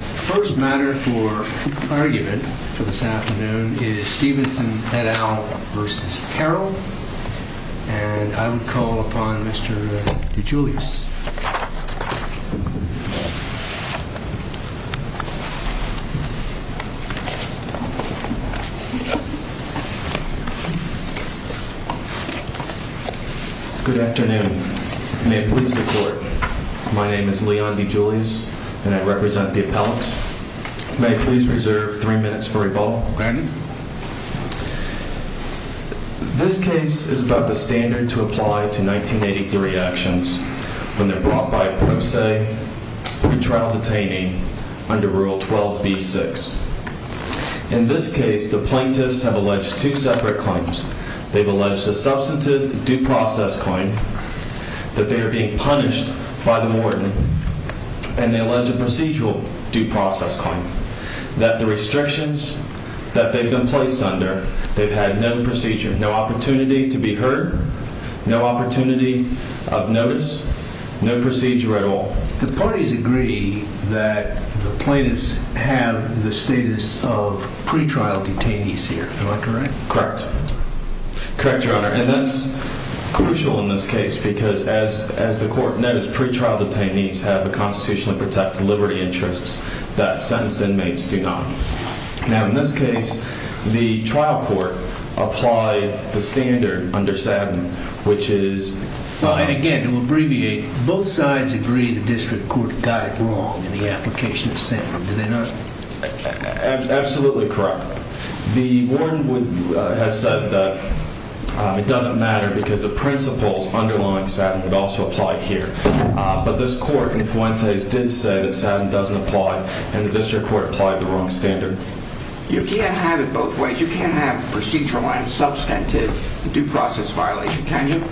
The first matter for argument for this afternoon is Steveson et al. v. Carroll, and I would call upon Mr. DeGiulis. Good afternoon. May it please the Court, my name is Leon DeGiulis, and I represent the Bronx. May I please reserve three minutes for rebuttal? This case is about the standard to apply to 1983 actions when they're brought by a pro se and trial detainee under Rule 12b-6. In this case, the plaintiffs have alleged two separate claims. They've alleged a substantive due process claim that they are being punished by the warden, and they allege a procedural due process claim that the restrictions that they've been placed under, they've had no procedure, no opportunity to be heard, no opportunity of notice, no procedure at all. The parties agree that the plaintiffs have the status of pretrial detainees here, am I correct? Correct. Correct, Your Honor, and that's crucial in this case because, as the Court knows, pretrial detainees have a constitution that protects liberty interests that sentenced inmates do not. Now, in this case, the trial court applied the standard under SADM, which is... Well, and again, to abbreviate, both sides agree the district court got it wrong in the application of SADM, did they not? Absolutely correct. The warden has said that it doesn't matter because the principles underlying SADM would also apply here, but this Court in Fuentes did say that SADM doesn't apply and the district court applied the wrong standard. You can't have it both ways. You can't have procedural and substantive due process violation, can you?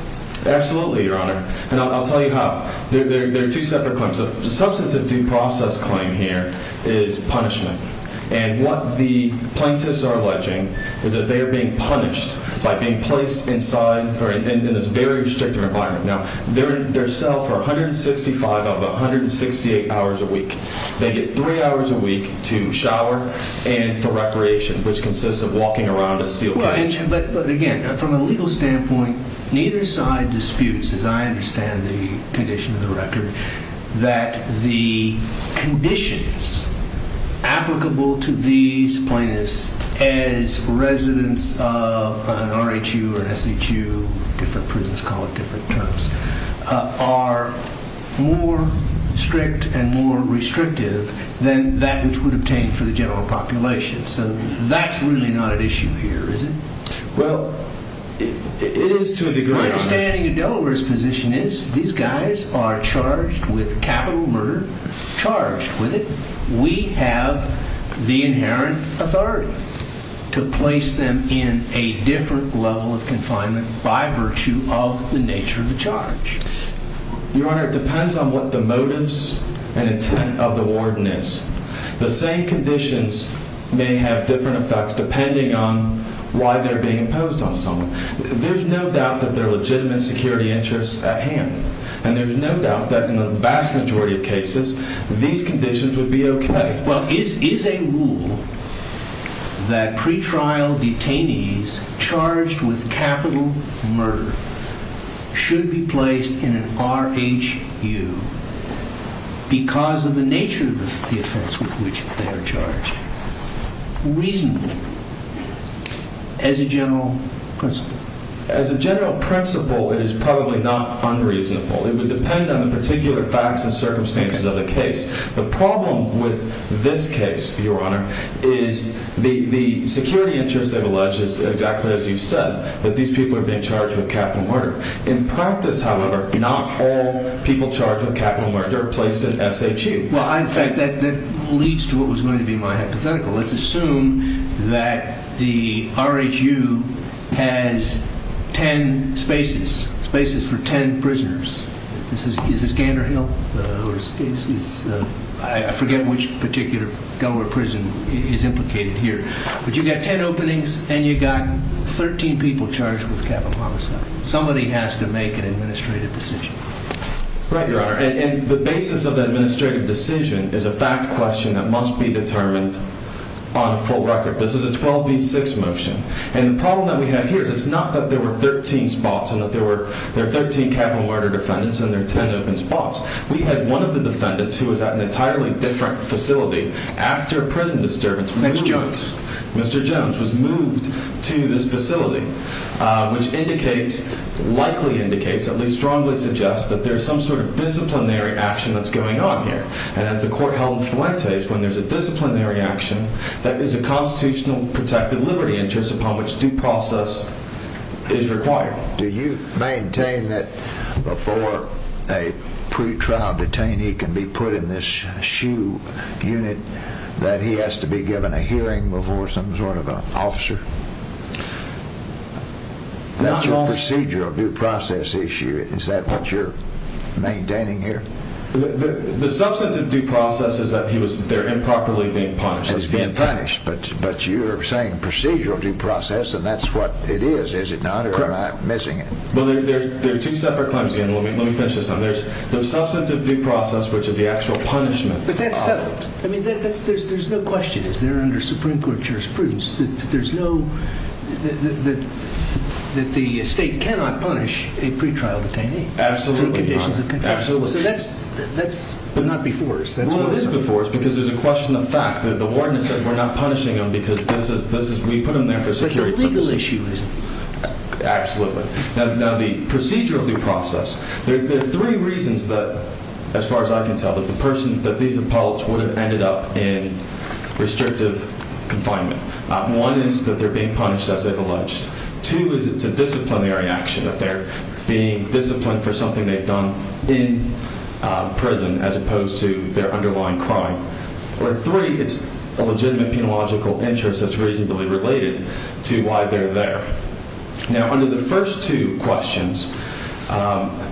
Absolutely, Your Honor, and I'll tell you how. There are two separate claims. The substantive due process claim here is punishment, and what the plaintiffs are alleging is that they are being punished by being placed inside, or in this very restrictive environment. Now, they're in their cell for 165 of 168 hours a week. They get three hours a week to shower and for recreation, which consists of walking around a steel cage. Well, but again, from a legal standpoint, neither side disputes, as I understand the condition of the record, that the conditions applicable to these plaintiffs as residents of an RHU or an SHU, different prisons call it different terms, are more strict and more restrictive than that which would obtain for the general population. So that's really not an issue here, is it? My understanding of Delaware's position is these guys are charged with capital murder, charged with it. We have the inherent authority to place them in a different level of confinement by virtue of the nature of the charge. Your Honor, it depends on what the motives and intent of the warden is. The same conditions may have different effects depending on why they're being imposed on someone. There's no doubt that there are legitimate security interests at hand, and there's no doubt that in the vast majority of cases, these conditions would be okay. Well, is a rule that pretrial detainees charged with capital murder should be placed in an RHU because of the nature of the offense with which they are charged, reasonable as a general principle? As a general principle, it is probably not unreasonable. It would depend on the particular facts and circumstances of the case. The problem with this case, Your Honor, is the security interests have alleged, exactly as you've said, that these people are being charged with capital murder. In practice, however, not all people charged with capital murder are placed in SHU. Well, in fact, that leads to what was going to be my hypothetical. Let's assume that the RHU has 10 spaces, spaces for 10 prisoners. Is this Gander Hill? I forget which particular government prison is implicated here. But you've got 10 openings, and you've got 13 people charged with capital homicide. Somebody has to make an administrative decision. Right, Your Honor. And the basis of the administrative decision is a fact question that must be determined on a full record. This is a 12 v. 6 motion. And the problem that we have here is it's not that there were 13 spots and that there were 13 capital murder defendants and there are 10 open spots. We had one of the defendants who was at an entirely different facility after a prison disturbance. Mr. Jones. Mr. Jones was moved to this facility, which indicates, likely indicates, at least strongly suggests that there's some sort of disciplinary action that's going on here. And as the court held Fuentes, when there's a disciplinary action, that is a constitutional protected liberty interest upon which due process is required. Do you maintain that before a pretrial detainee can be put in this SHU unit, that he has to be given a hearing before some sort of an officer? That's a procedural due process issue. Is that what you're maintaining here? The substantive due process is that they're improperly being punished. That he's being punished. But you're saying procedural due process, and that's what it is, is it not? Or am I missing it? Well, there are two separate claims again. Let me finish this up. There's the substantive due process, which is the actual punishment. But that's settled. I mean, there's no question. Is there under Supreme Court jurisprudence that there's no, that the state cannot punish a pretrial detainee? Absolutely not. Through conditions of contempt. Absolutely. So that's not before us. Well, it is before us because there's a question of fact. The warden has said we're not punishing him because this is, we put him there for security purposes. But the legal issue is. Absolutely. Now, the procedural due process, there are three reasons that, as far as I can tell, that the person, that these appellants would have ended up in restrictive confinement. One is that they're being punished as they've alleged. Two is it's a disciplinary action that they're being disciplined for something they've done in prison as opposed to their underlying crime. Or three, it's a legitimate penological interest that's reasonably related to why they're there. Now, under the first two questions,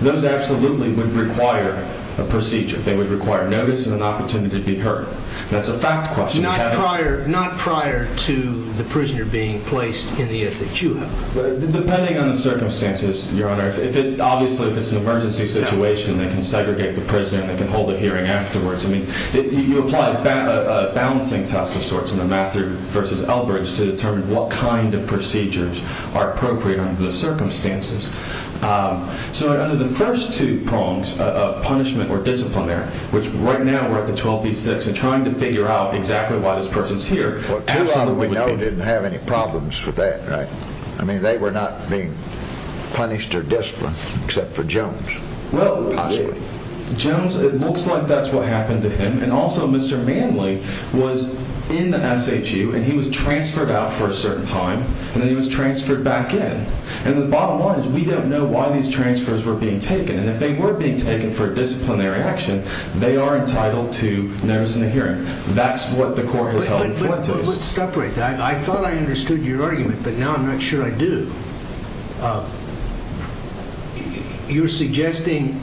those absolutely would require a procedure. They would require notice and an opportunity to be heard. That's a fact question. Not prior, not prior to the prisoner being placed in the SHU. Depending on the circumstances, Your Honor. If it, obviously, if it's an emergency situation, they can segregate the prisoner and they can hold a hearing afterwards. I mean, you apply a balancing test of sorts in the Mather versus Elbridge to determine what kind of procedures are appropriate under the circumstances. So under the first two prongs of punishment or disciplinary, which right now we're at the 12B6 and trying to figure out exactly why this person's here. Well, two of them we know didn't have any problems with that, right? I mean, they were not being punished or disciplined except for Jones. Well, Jones, it looks like that's what happened to him. And also, Mr. Manley was in the SHU and he was transferred out for a certain time and then he was transferred back in. And the bottom line is we don't know why these transfers were being taken. And if they were being taken for disciplinary action, they are entitled to notice and a hearing. That's what the court has held in Fuentes. Wait, but what would separate that? I thought I understood your argument, but now I'm not sure I do. You're suggesting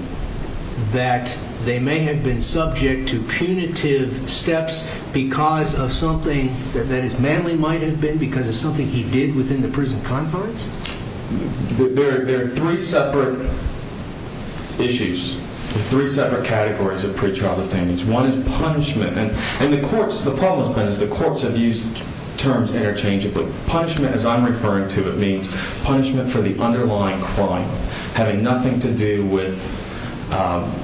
that they may have been subject to punitive steps because of something, that is, Manley might have been because of something he did within the prison confines? There are three separate issues, three separate categories of pretrial detainees. One is punishment. And the courts, the problem has been is the courts have used terms interchangeably. Punishment as I'm referring to, it means punishment for the underlying crime, having nothing to do with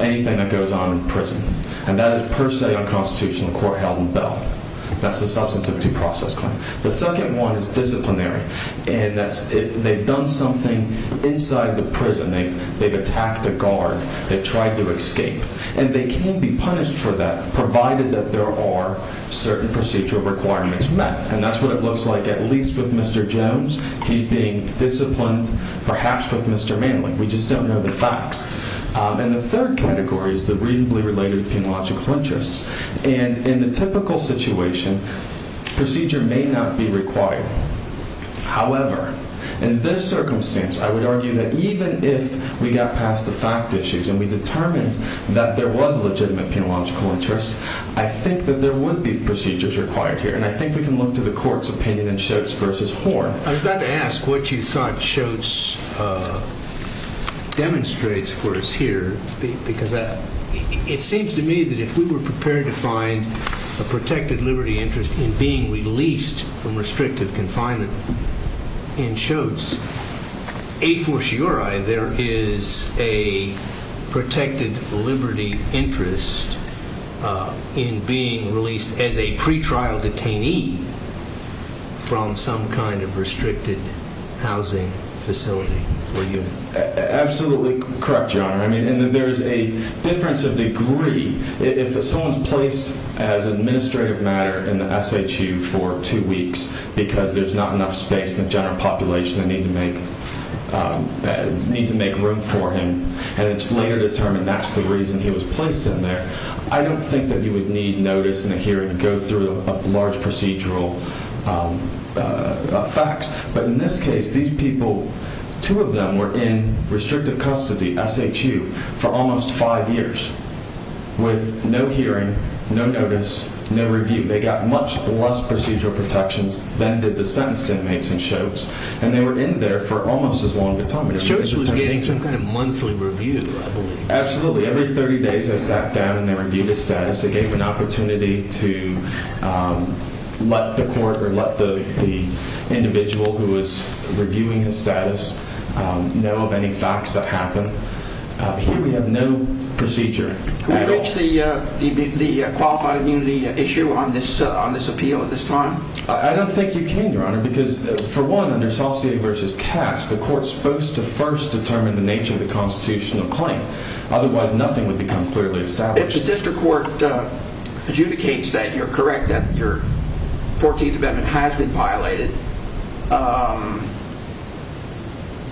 anything that goes on in prison. And that is per se unconstitutional, the court held in Bell. That's a substantive due process claim. The second one is disciplinary. And that's if they've done something inside the prison, they've attacked a guard, they've tried to escape. And they can be punished for that, provided that there are certain procedural requirements met. And that's what it looks like, at least with Mr. Jones. He's being disciplined, perhaps with Mr. Manley. We just don't know the facts. And the third category is the reasonably related penological interests. And in the typical situation, procedure may not be required. However, in this circumstance, I would argue that even if we got past the fact issues and we determined that there was a legitimate penological interest, I think that there would be procedures required here. And I think we can look to the court's opinion in Schoetz versus Horn. I would like to ask what you thought Schoetz demonstrates for us here, because it seems to me that if we were prepared to find a protected liberty interest in being released from restrictive confinement in Schoetz, a fortiori there is a protected liberty interest in being released as a pretrial detainee from some kind of restricted housing facility for you. Absolutely correct, Your Honor. I mean, there's a difference of degree. If someone's placed as administrative matter in the SHU for two weeks because there's not enough space in the general population, they need to make room for him, and it's later determined that's the reason he was placed in there, I don't think that you would need notice in a hearing to go through large procedural facts. But in this case, these people, two of them were in restrictive custody, SHU, for almost five years with no hearing, no evidence against inmates in Schoetz, and they were in there for almost as long a time. Schoetz was getting some kind of monthly review, I believe. Absolutely, every 30 days I sat down and they reviewed his status, they gave an opportunity to let the court or let the individual who was reviewing his status know of any facts that happened. Here we have no procedure at all. Can we reach the qualified immunity issue on this appeal at this time? I don't think you can, Your Honor, because for one, under Saucier v. Katz, the court is supposed to first determine the nature of the constitutional claim. Otherwise, nothing would become clearly established. If the district court adjudicates that you're correct, that your 14th Amendment has been violated,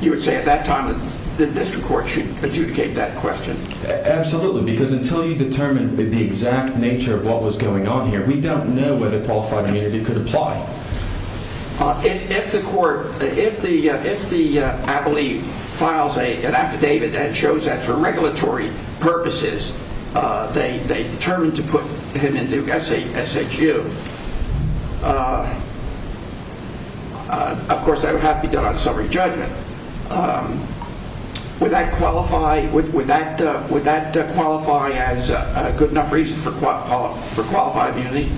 you would say at that time the district court should adjudicate that question? Absolutely, because until you determine the exact nature of what was going on here, we don't know whether qualified immunity could apply. If the court, if the, I believe, files an affidavit that shows that for regulatory purposes they determined to put him in Duke SHU, of course that would have to be done on summary for qualified immunity.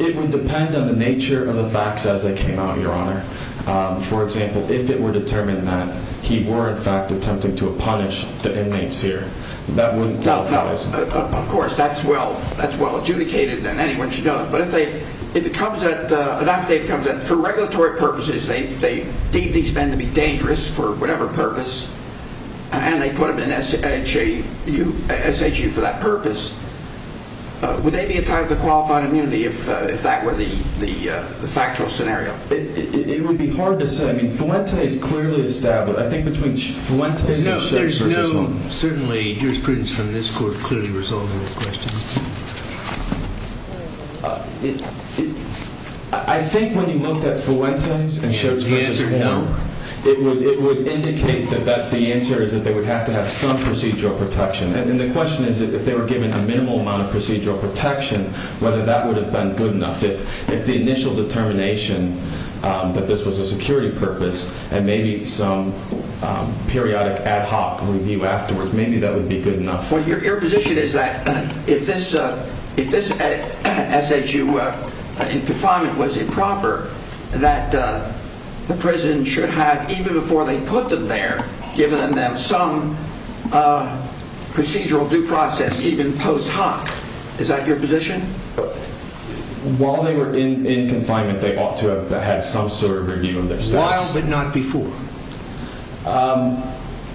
It would depend on the nature of the facts as they came out, Your Honor. For example, if it were determined that he were, in fact, attempting to punish the inmates here, that wouldn't qualify as an affidavit. Of course, that's well adjudicated and anyone should know that. But if they, if it comes at, an affidavit comes at, for regulatory purposes, they deemed these men to be dangerous for whatever purpose, and they put them in SHU for that purpose, would they be entitled to qualified immunity if that were the factual scenario? It would be hard to say. I mean, Fuente is clearly established. I think between Fuente and Shoves v. Warren. No, there's no, certainly jurisprudence from this court clearly resolves those questions. I think when you looked at Fuente and Shoves v. Warren, it would indicate that the answer is that they would have to have some procedural protection. And the question is, if they were given a minimal amount of procedural protection, whether that would have been good enough. If the initial determination that this was a security purpose, and maybe some periodic ad hoc review afterwards, maybe that would be good enough. Well, your position is that if this SHU confinement was improper, that the prison should have, even before they put them there, given them some procedural due process, even post hoc. Is that your position? While they were in confinement, they ought to have had some sort of review of their status. While but not before?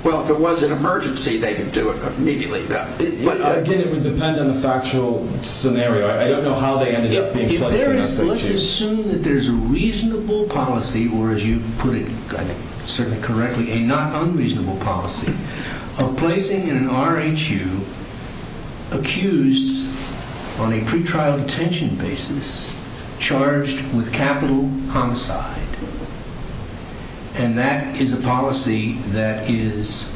Well, if it was an emergency, they could do it immediately. Again, it would depend on the factual scenario. I don't know how they ended up being placed in an SHU. Let's assume that there's a reasonable policy, or as you've put it, certainly correctly, a not unreasonable policy, of placing an RHU accused on a pretrial detention basis, charged with capital homicide. And that is a policy that is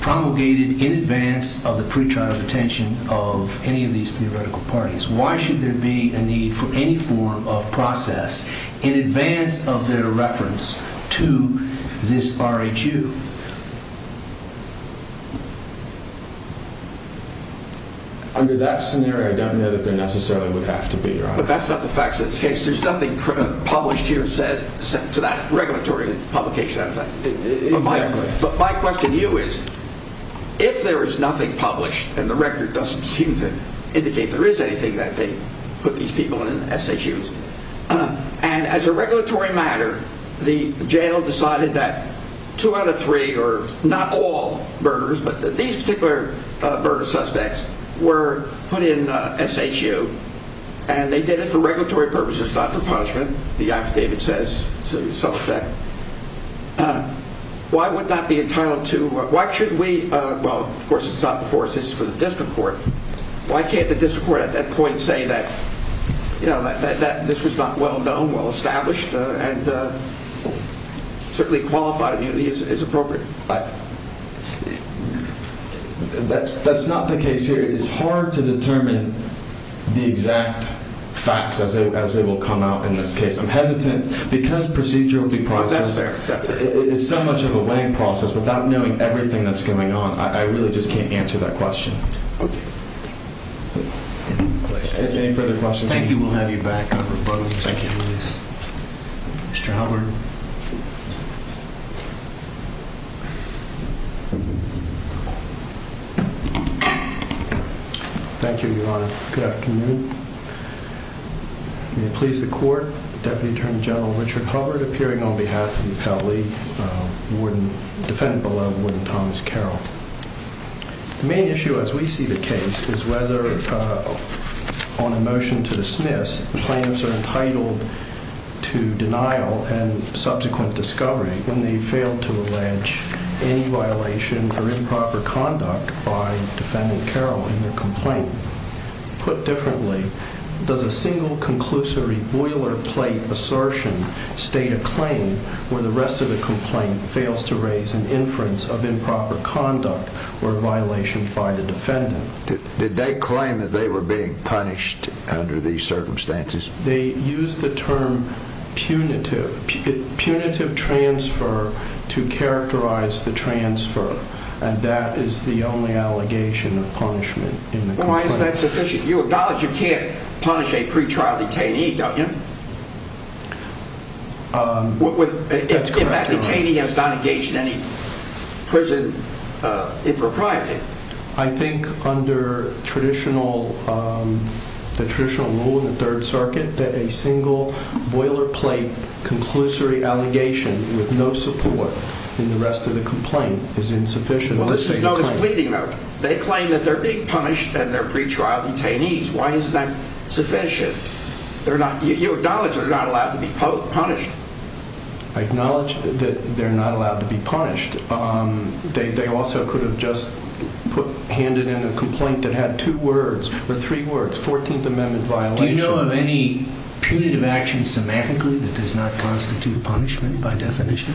promulgated in advance of the pretrial detention of any of these theoretical parties. Why should there be a need for any form of process in advance of their reference to this RHU? Under that scenario, I don't know that there necessarily would have to be, Your Honor. But that's not the fact of the case. There's nothing published here to that regulatory publication. But my question to you is, if there is nothing published, and the record doesn't seem to indicate there is anything that they put these people in SHUs, and as a regulatory matter, the jail decided that two out of three, or not all burglars, but these particular burglars or suspects, were put in SHU, and they did it for regulatory purposes, not for punishment, the affidavit says to some effect, why would that be entitled to, why should we, well, of course it's not before us, this is for the district court, why can't the district court at that point say that this was not well-known, well-established, and certainly qualified immunity is appropriate? That's not the case here. It's hard to determine the exact facts as they will come out in this case. I'm hesitant, because procedural due process is so much of a weighing process, without knowing everything that's going on, I really just can't answer that question. Any further questions? Thank you, we'll have to move on. Thank you, Your Honor. Good afternoon. May it please the Court, Deputy Attorney General Richard Hubbard, appearing on behalf of the appellee, defendant below, Warden Thomas Carroll. The main issue as we see the case is whether, on a motion to dismiss, the claims are entitled to denial and subsequent discovery when they fail to allege any violation or improper conduct by defendant Carroll in their complaint. Put differently, does a single conclusory boilerplate assertion state a claim where the rest of the complaint fails to raise an inference of improper conduct or violation by the defendant? Did they claim that they were being punished under these circumstances? They used the term punitive, punitive transfer to characterize the transfer, and that is the only allegation of punishment in the complaint. Why is that sufficient? You acknowledge you can't punish a pretrial detainee, don't you? If that detainee has not engaged in any prison impropriety. I think under traditional, the traditional rule in the Third Circuit, that a single boilerplate conclusory allegation with no support in the rest of the complaint is insufficient. Well, this is notice pleading, though. They claim that they're being punished and they're pretrial detainees. Why isn't that sufficient? They're not allowed to be punished. I acknowledge that they're not allowed to be punished. They also could have just handed in a complaint that had two words or three words, 14th Amendment violation. Do you know of any punitive action semantically that does not constitute punishment by definition?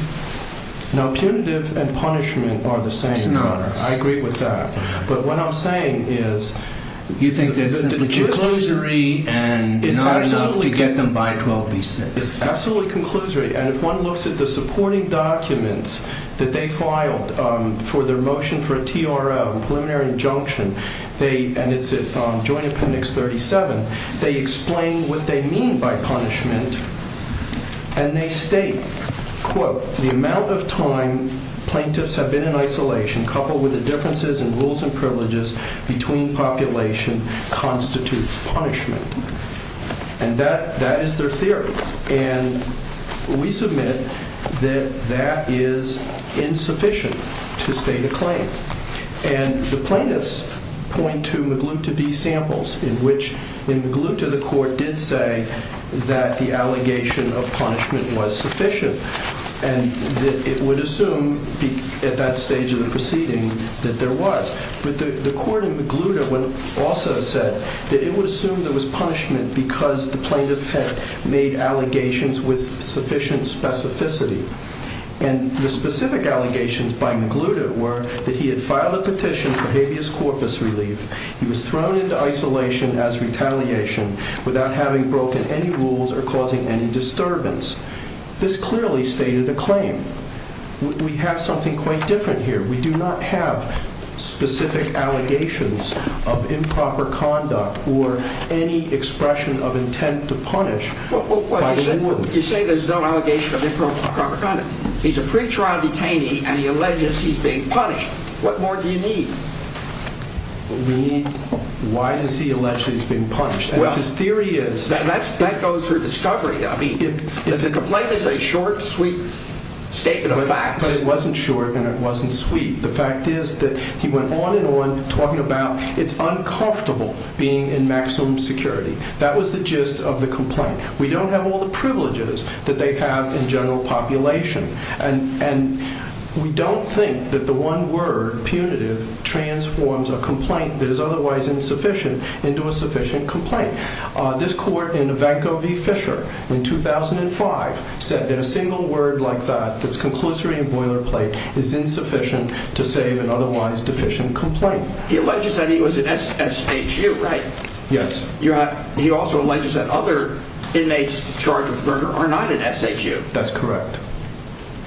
No, punitive and punishment are the same. I agree with that. But what It's absolutely conclusory. And if one looks at the supporting documents that they filed for their motion for a TRO, preliminary injunction, and it's at Joint Appendix 37, they explain what they mean by punishment. And they state, quote, the amount of time plaintiffs have been in isolation, coupled with the differences in rules and privileges between population constitutes punishment. And that is their theory. And we submit that that is insufficient to state a claim. And the plaintiffs point to Magluta v. Samples, in which in Magluta the court did say that the allegation of punishment was sufficient. And it would assume at that that it was punishment because the plaintiff had made allegations with sufficient specificity. And the specific allegations by Magluta were that he had filed a petition for habeas corpus relief. He was thrown into isolation as retaliation without having broken any rules or causing any disturbance. This clearly stated a claim. We have something quite different here. We do not have specific allegations of improper conduct or any expression of intent to punish. Well, you say there's no allegation of improper conduct. He's a pretrial detainee and he alleges he's being punished. What more do you need? Why does he allege that he's being punished? That's his theory is. That goes through discovery. I mean, the complaint is a short, sweet statement of facts. But it wasn't short and it wasn't sweet. The fact is that he went on and on talking about it's uncomfortable being in maximum security. That was the gist of the complaint. We don't have all the privileges that they have in general population. And we don't think that the one word, punitive, transforms a complaint that is otherwise insufficient into a sufficient complaint. This court in Ivanko v. Fisher in 2005 said that a single word like that, that's conclusory and boilerplate, is insufficient to save an otherwise deficient complaint. He alleges that he was in SSHU, right? Yes. He also alleges that other inmates charged with murder are not in SHU. That's correct.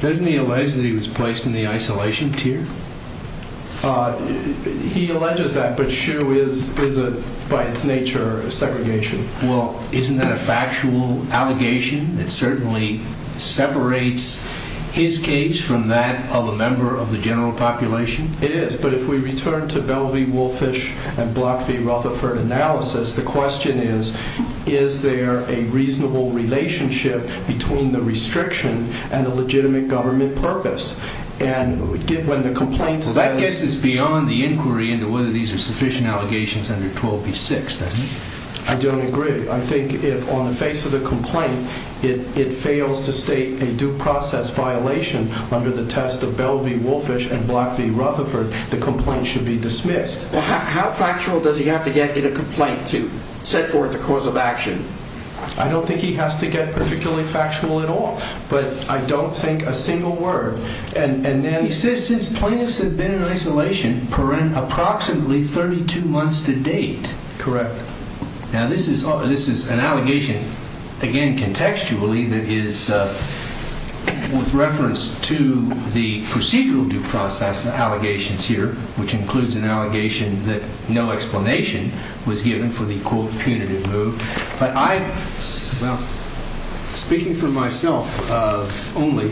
Doesn't he allege that he was placed in the isolation tier? He alleges that, but SHU is by its nature a segregation. Well, isn't that a factual allegation? It certainly separates his case from that of a member of the general population? It is. But if we return to Bell v. Woolfish and Block v. Rutherford analysis, the question is, is there a reasonable relationship between the restriction and the legitimate government purpose? And when the complaint's... Well, that gets us beyond the inquiry into whether these are sufficient allegations under I don't agree. I think if, on the face of the complaint, it fails to state a due process violation under the test of Bell v. Woolfish and Block v. Rutherford, the complaint should be dismissed. How factual does he have to get in a complaint to set forth a cause of action? I don't think he has to get particularly factual at all, but I don't think a single word. And he says, since plaintiffs have been in isolation, approximately 32 months to date. Correct. Now, this is an allegation, again, contextually, that is with reference to the procedural due process allegations here, which includes an allegation that no explanation was given for the, quote, punitive move. But I, well, speaking for myself only,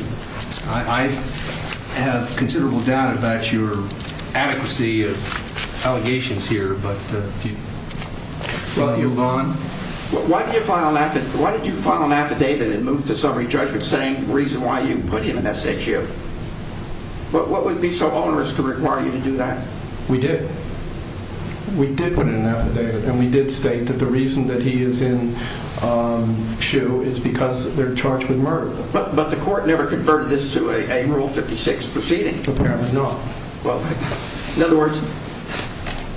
I have considerable doubt about your adequacy of allegations here, but while you're gone... Why did you file an affidavit and move to summary judgment saying the reason why you put him in SHU? What would be so onerous to require you to do that? We did. We did put in an affidavit, and we did state that the reason that he is in SHU is because they're charged with murder. But the court never converted this to a Rule 56 proceeding? Apparently not. Well, in other words,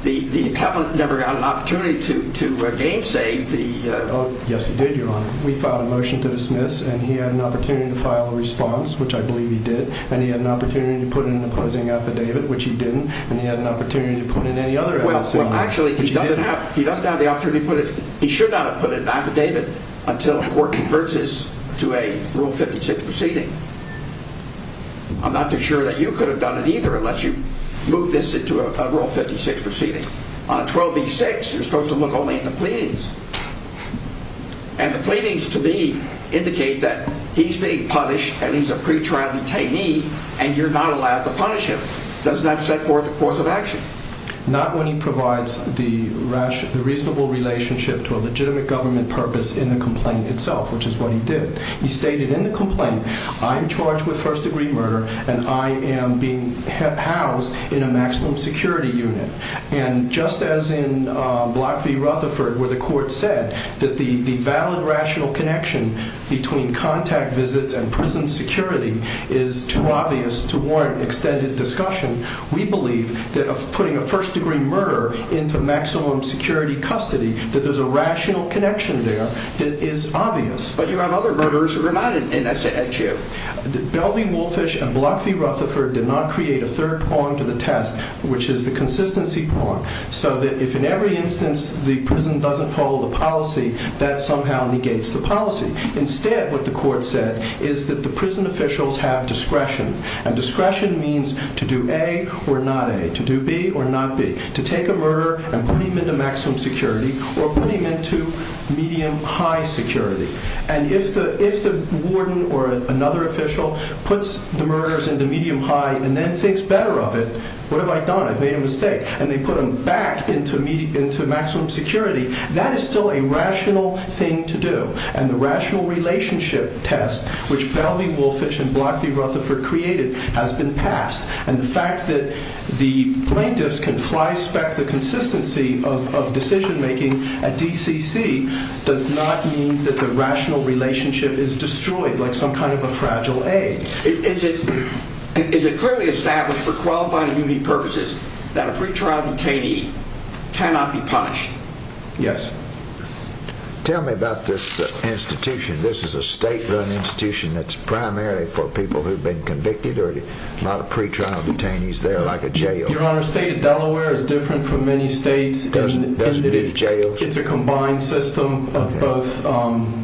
the accountant never got an opportunity to gainsay the... Oh, yes, he did, Your Honor. We filed a motion to dismiss, and he had an opportunity to file a response, which I believe he did, and he had an opportunity to put in an opposing affidavit, which he didn't, and he had an opportunity to put in any other... Well, actually, he doesn't have the opportunity to put it... He should not have put an affidavit until a court converts this to a Rule 56 proceeding. I'm not too sure that you could have done it either unless you moved this into a Rule 56 proceeding. On a 12b-6, you're supposed to look only at the pleadings. And the pleadings, to me, indicate that he's being punished and he's a pretrial detainee, and you're not allowed to punish him. Does that set forth the course of action? Not when he provides the rational... the reasonable relationship to a legitimate government purpose in the complaint itself, which is what he did. He stated in the complaint, I am charged with first-degree murder, and I am being housed in a maximum security unit. And just as in Block v. Rutherford, where the court said that the valid rational connection between contact visits and prison security is too obvious to warrant extended discussion, we believe that putting a first-degree murder into maximum security custody, that there's a rational connection there that is obvious. But you have other murderers who are not in that chair. Belvey-Wolfish and Block v. Rutherford did not create a third prong to the test, which is the consistency prong, so that if in every instance the prison doesn't follow the policy, that somehow negates the policy. Instead, what the court said is that the prison officials have discretion. And discretion means to do A or not A, to do B or not B, to take a murder and put him into maximum security or put him into medium-high security. And if the warden or another official puts the murderers into medium-high and then thinks better of it, what have I done? I've made a mistake. And they put them back into maximum security. That is still a rational thing to do. And the rational relationship test, which Belvey-Wolfish and Block v. Rutherford created, has been passed. And the fact that the plaintiffs can fly-spec the consistency of decision-making at DCC does not mean that the rational relationship is destroyed like some kind of a fragile A. Is it clearly established for qualifying purposes that a pretrial detainee cannot be punished? Yes. Tell me about this institution. This is a state-run institution that's primarily for people who've been convicted or a lot of pretrial detainees there, like a jail? Your Honor, the state of Delaware is different from many states. Doesn't it have jails? It's a combined system of both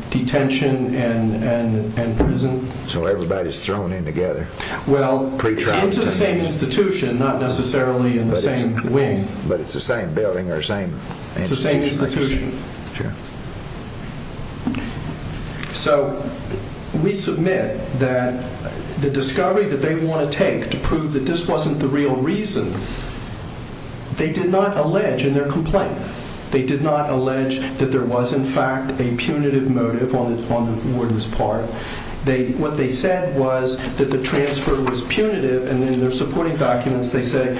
detention and prison. So everybody's thrown in together? Well, into the same institution, not necessarily in the same wing. But it's the same building or same institution? It's the same institution. Sure. So we submit that the discovery that they want to take to prove that this wasn't the real reason, they did not allege in their complaint. They did not allege that there was, in fact, a punitive motive on the warden's part. What they said was that the transfer was punitive. And in their supporting documents, they say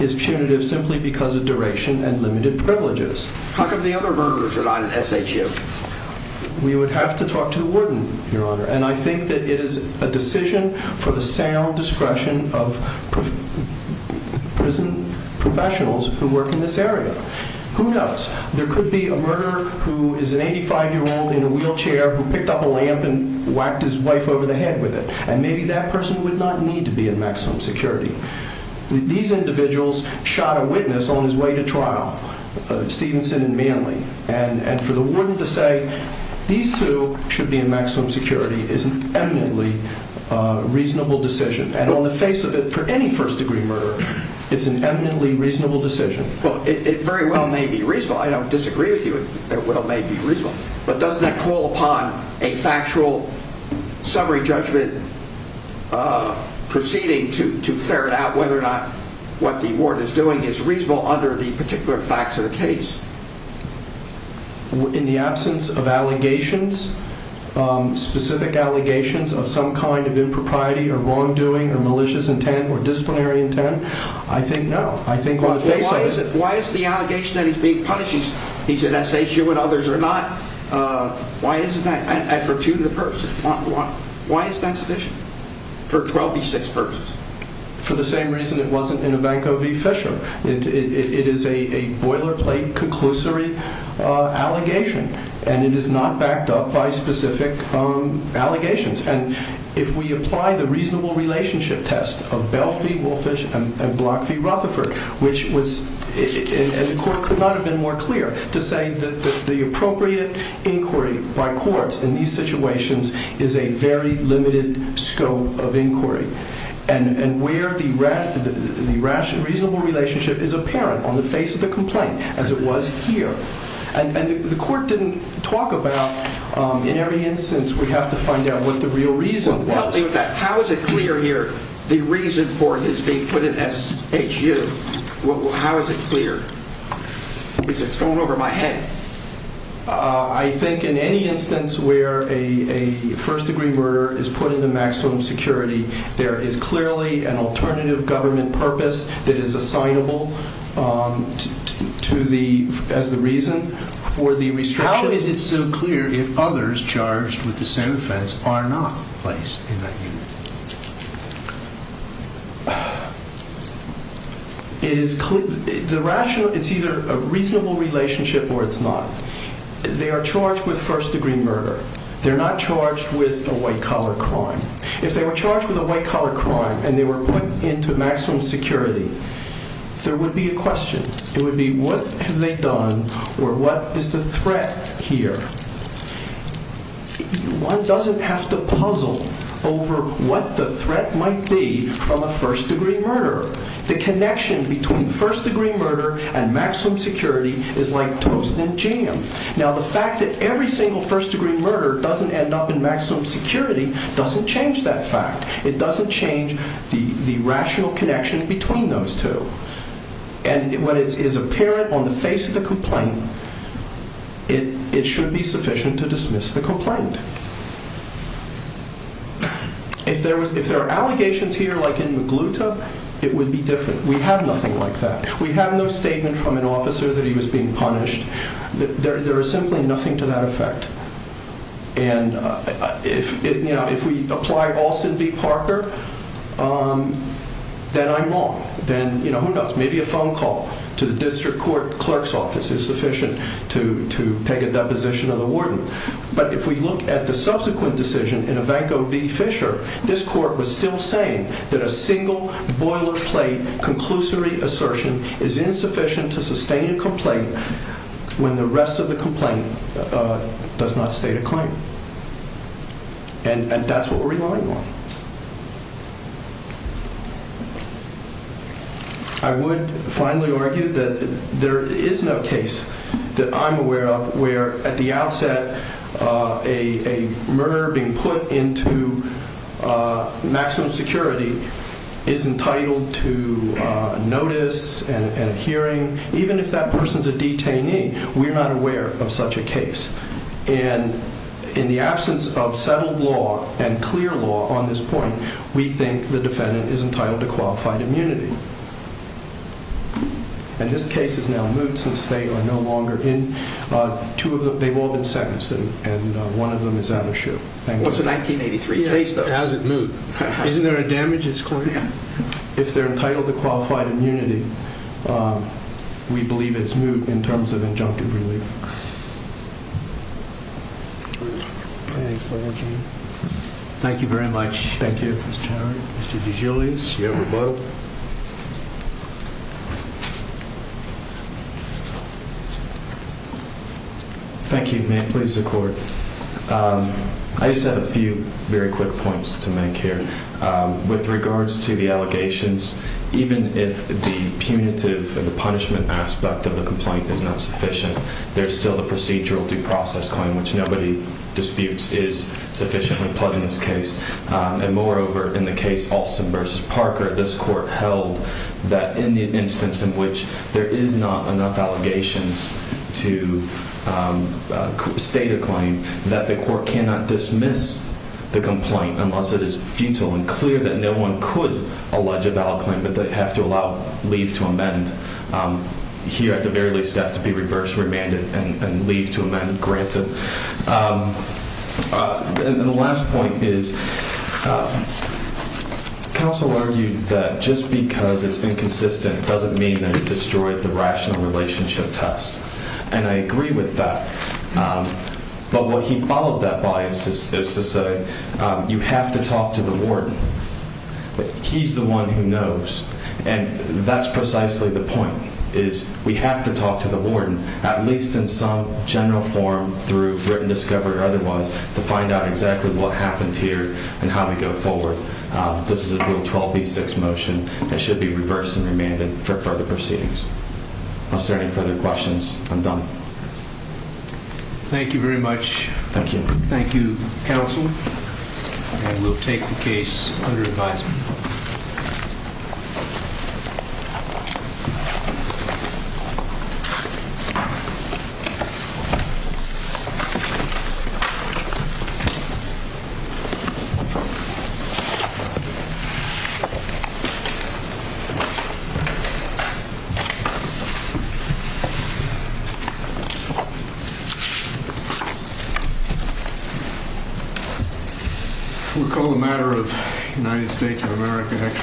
it's punitive simply because of duration and limited privileges. How come the other murderers are not in SHU? We would have to talk to the warden, Your Honor. And I think that it is a decision for the sound discretion of prison professionals who work in this area. Who knows? There could be a murderer who is an 85-year-old in a wheelchair who picked up a lamp and whacked his wife over the head with it. And maybe that person would not need to be in maximum security. These individuals shot a witness on his way to trial, Stevenson and Manley. And for the warden to say these two should be in maximum security is an eminently reasonable decision. And on the face of it, for any first-degree murderer, it's an eminently reasonable decision. Well, it very well may be reasonable. I don't disagree with you. It well may be reasonable. But doesn't that call upon a factual summary judgment proceeding to ferret out whether or not what the warden is doing is reasonable under the particular facts of the case? In the absence of allegations, specific allegations of some kind of impropriety or wrongdoing or malicious intent or disciplinary intent, I think no. Why is the allegation that he's being punished, he's an SHU and others are not, why is that? And for punitive purposes, why is that sufficient? For 12 v. 6 purposes? For the same reason it wasn't in Ivankov v. Fisher. It is a boilerplate conclusory allegation, and it is not backed up by specific allegations. And if we apply the reasonable relationship test of Bell v. Wolfish and Block v. Rutherford, which was, and the court could not have been more clear, to say that the appropriate inquiry by courts in these situations is a very limited scope of inquiry, and where the rational, reasonable relationship is apparent on the face of the complaint, as it was here. And the court didn't talk about, in every instance we have to find out what the real reason was. How is it clear here, the reason for his being put in SHU, how is it clear? Because it's going over my head. I think in any instance where a first degree murder is put into maximum security, there is clearly an alternative government purpose that is assignable as the reason for the restriction. How is it so clear if others charged with the same offense are not placed in that unit? It's either a reasonable relationship or it's not. They are charged with first degree murder. They're not charged with a white collar crime. If they were charged with a white collar crime and they were put into maximum security, there would be a question. It would be, what have they done, or what is the threat here? One doesn't have to puzzle over what the threat might be from a first degree murder. The connection between first degree murder and maximum security is like toast and jam. The fact that every single first degree murder doesn't end up in maximum security doesn't change that fact. It doesn't change the rational connection between those two. When it is apparent on the face of the complaint, it should be sufficient to dismiss the complaint. If there are allegations here like in Magluta, it would be different. We have nothing like that. We have no statement from an officer that he was being punished. There is simply nothing to that effect. If we apply Alston v. Parker, then I'm wrong. Who knows? Maybe a phone call to the district court clerk's office is sufficient to take a deposition of the warden. If we look at the subsequent decision in Ivanko v. Fisher, this court was still saying that a single boilerplate conclusory assertion is insufficient to sustain a complaint when the rest of the complaint does not state a claim. And that's what we're relying on. I would finally argue that there is no case that I'm aware of where at the outset a murderer being put into maximum security is entitled to notice and hearing. Even if that person is a detainee, we're not aware of such a case. And in the absence of settled law and clear law on this point, we think the defendant is entitled to qualified immunity. And this case is now moot since they are no longer in. They've all been sentenced and one of them is out of the shoe. It's a 1983 case, though. It hasn't moot. Isn't there a damages court? If they're entitled to qualified immunity, we believe it's moot in terms of injunctive relief. Thank you very much. Thank you. Thank you. May it please the court. I just have a few very quick points to make here. With regards to the allegations, even if the punitive and the punishment aspect of the complaint is not sufficient, there's still the procedural due process claim, which nobody disputes is sufficiently plugged in this case. And moreover, in the case Alston v. Parker, this court held that in the instance in which there is not enough allegations to state a claim, that the court cannot dismiss the complaint unless it is futile and clear that no one could allege a valid claim, but they have to allow leave to amend. Here, at the very least, it has to be reversed, remanded, and leave to amend granted. And the last point is, counsel argued that just because it's inconsistent doesn't mean that it destroyed the rational relationship test. And I agree with that. But what he followed that by is to say, you have to talk to the warden. He's the one who knows. And that's precisely the point, is we have to talk to the warden, at least in some general form through written discovery or otherwise, to find out exactly what happened here and how we go forward. This is a Rule 12b-6 motion. It should be reversed and remanded for further proceedings. Unless there are any further questions, I'm done. Thank you very much. Thank you. Thank you, counsel. And we'll take the case under advisement. We'll call the matter of United States of America.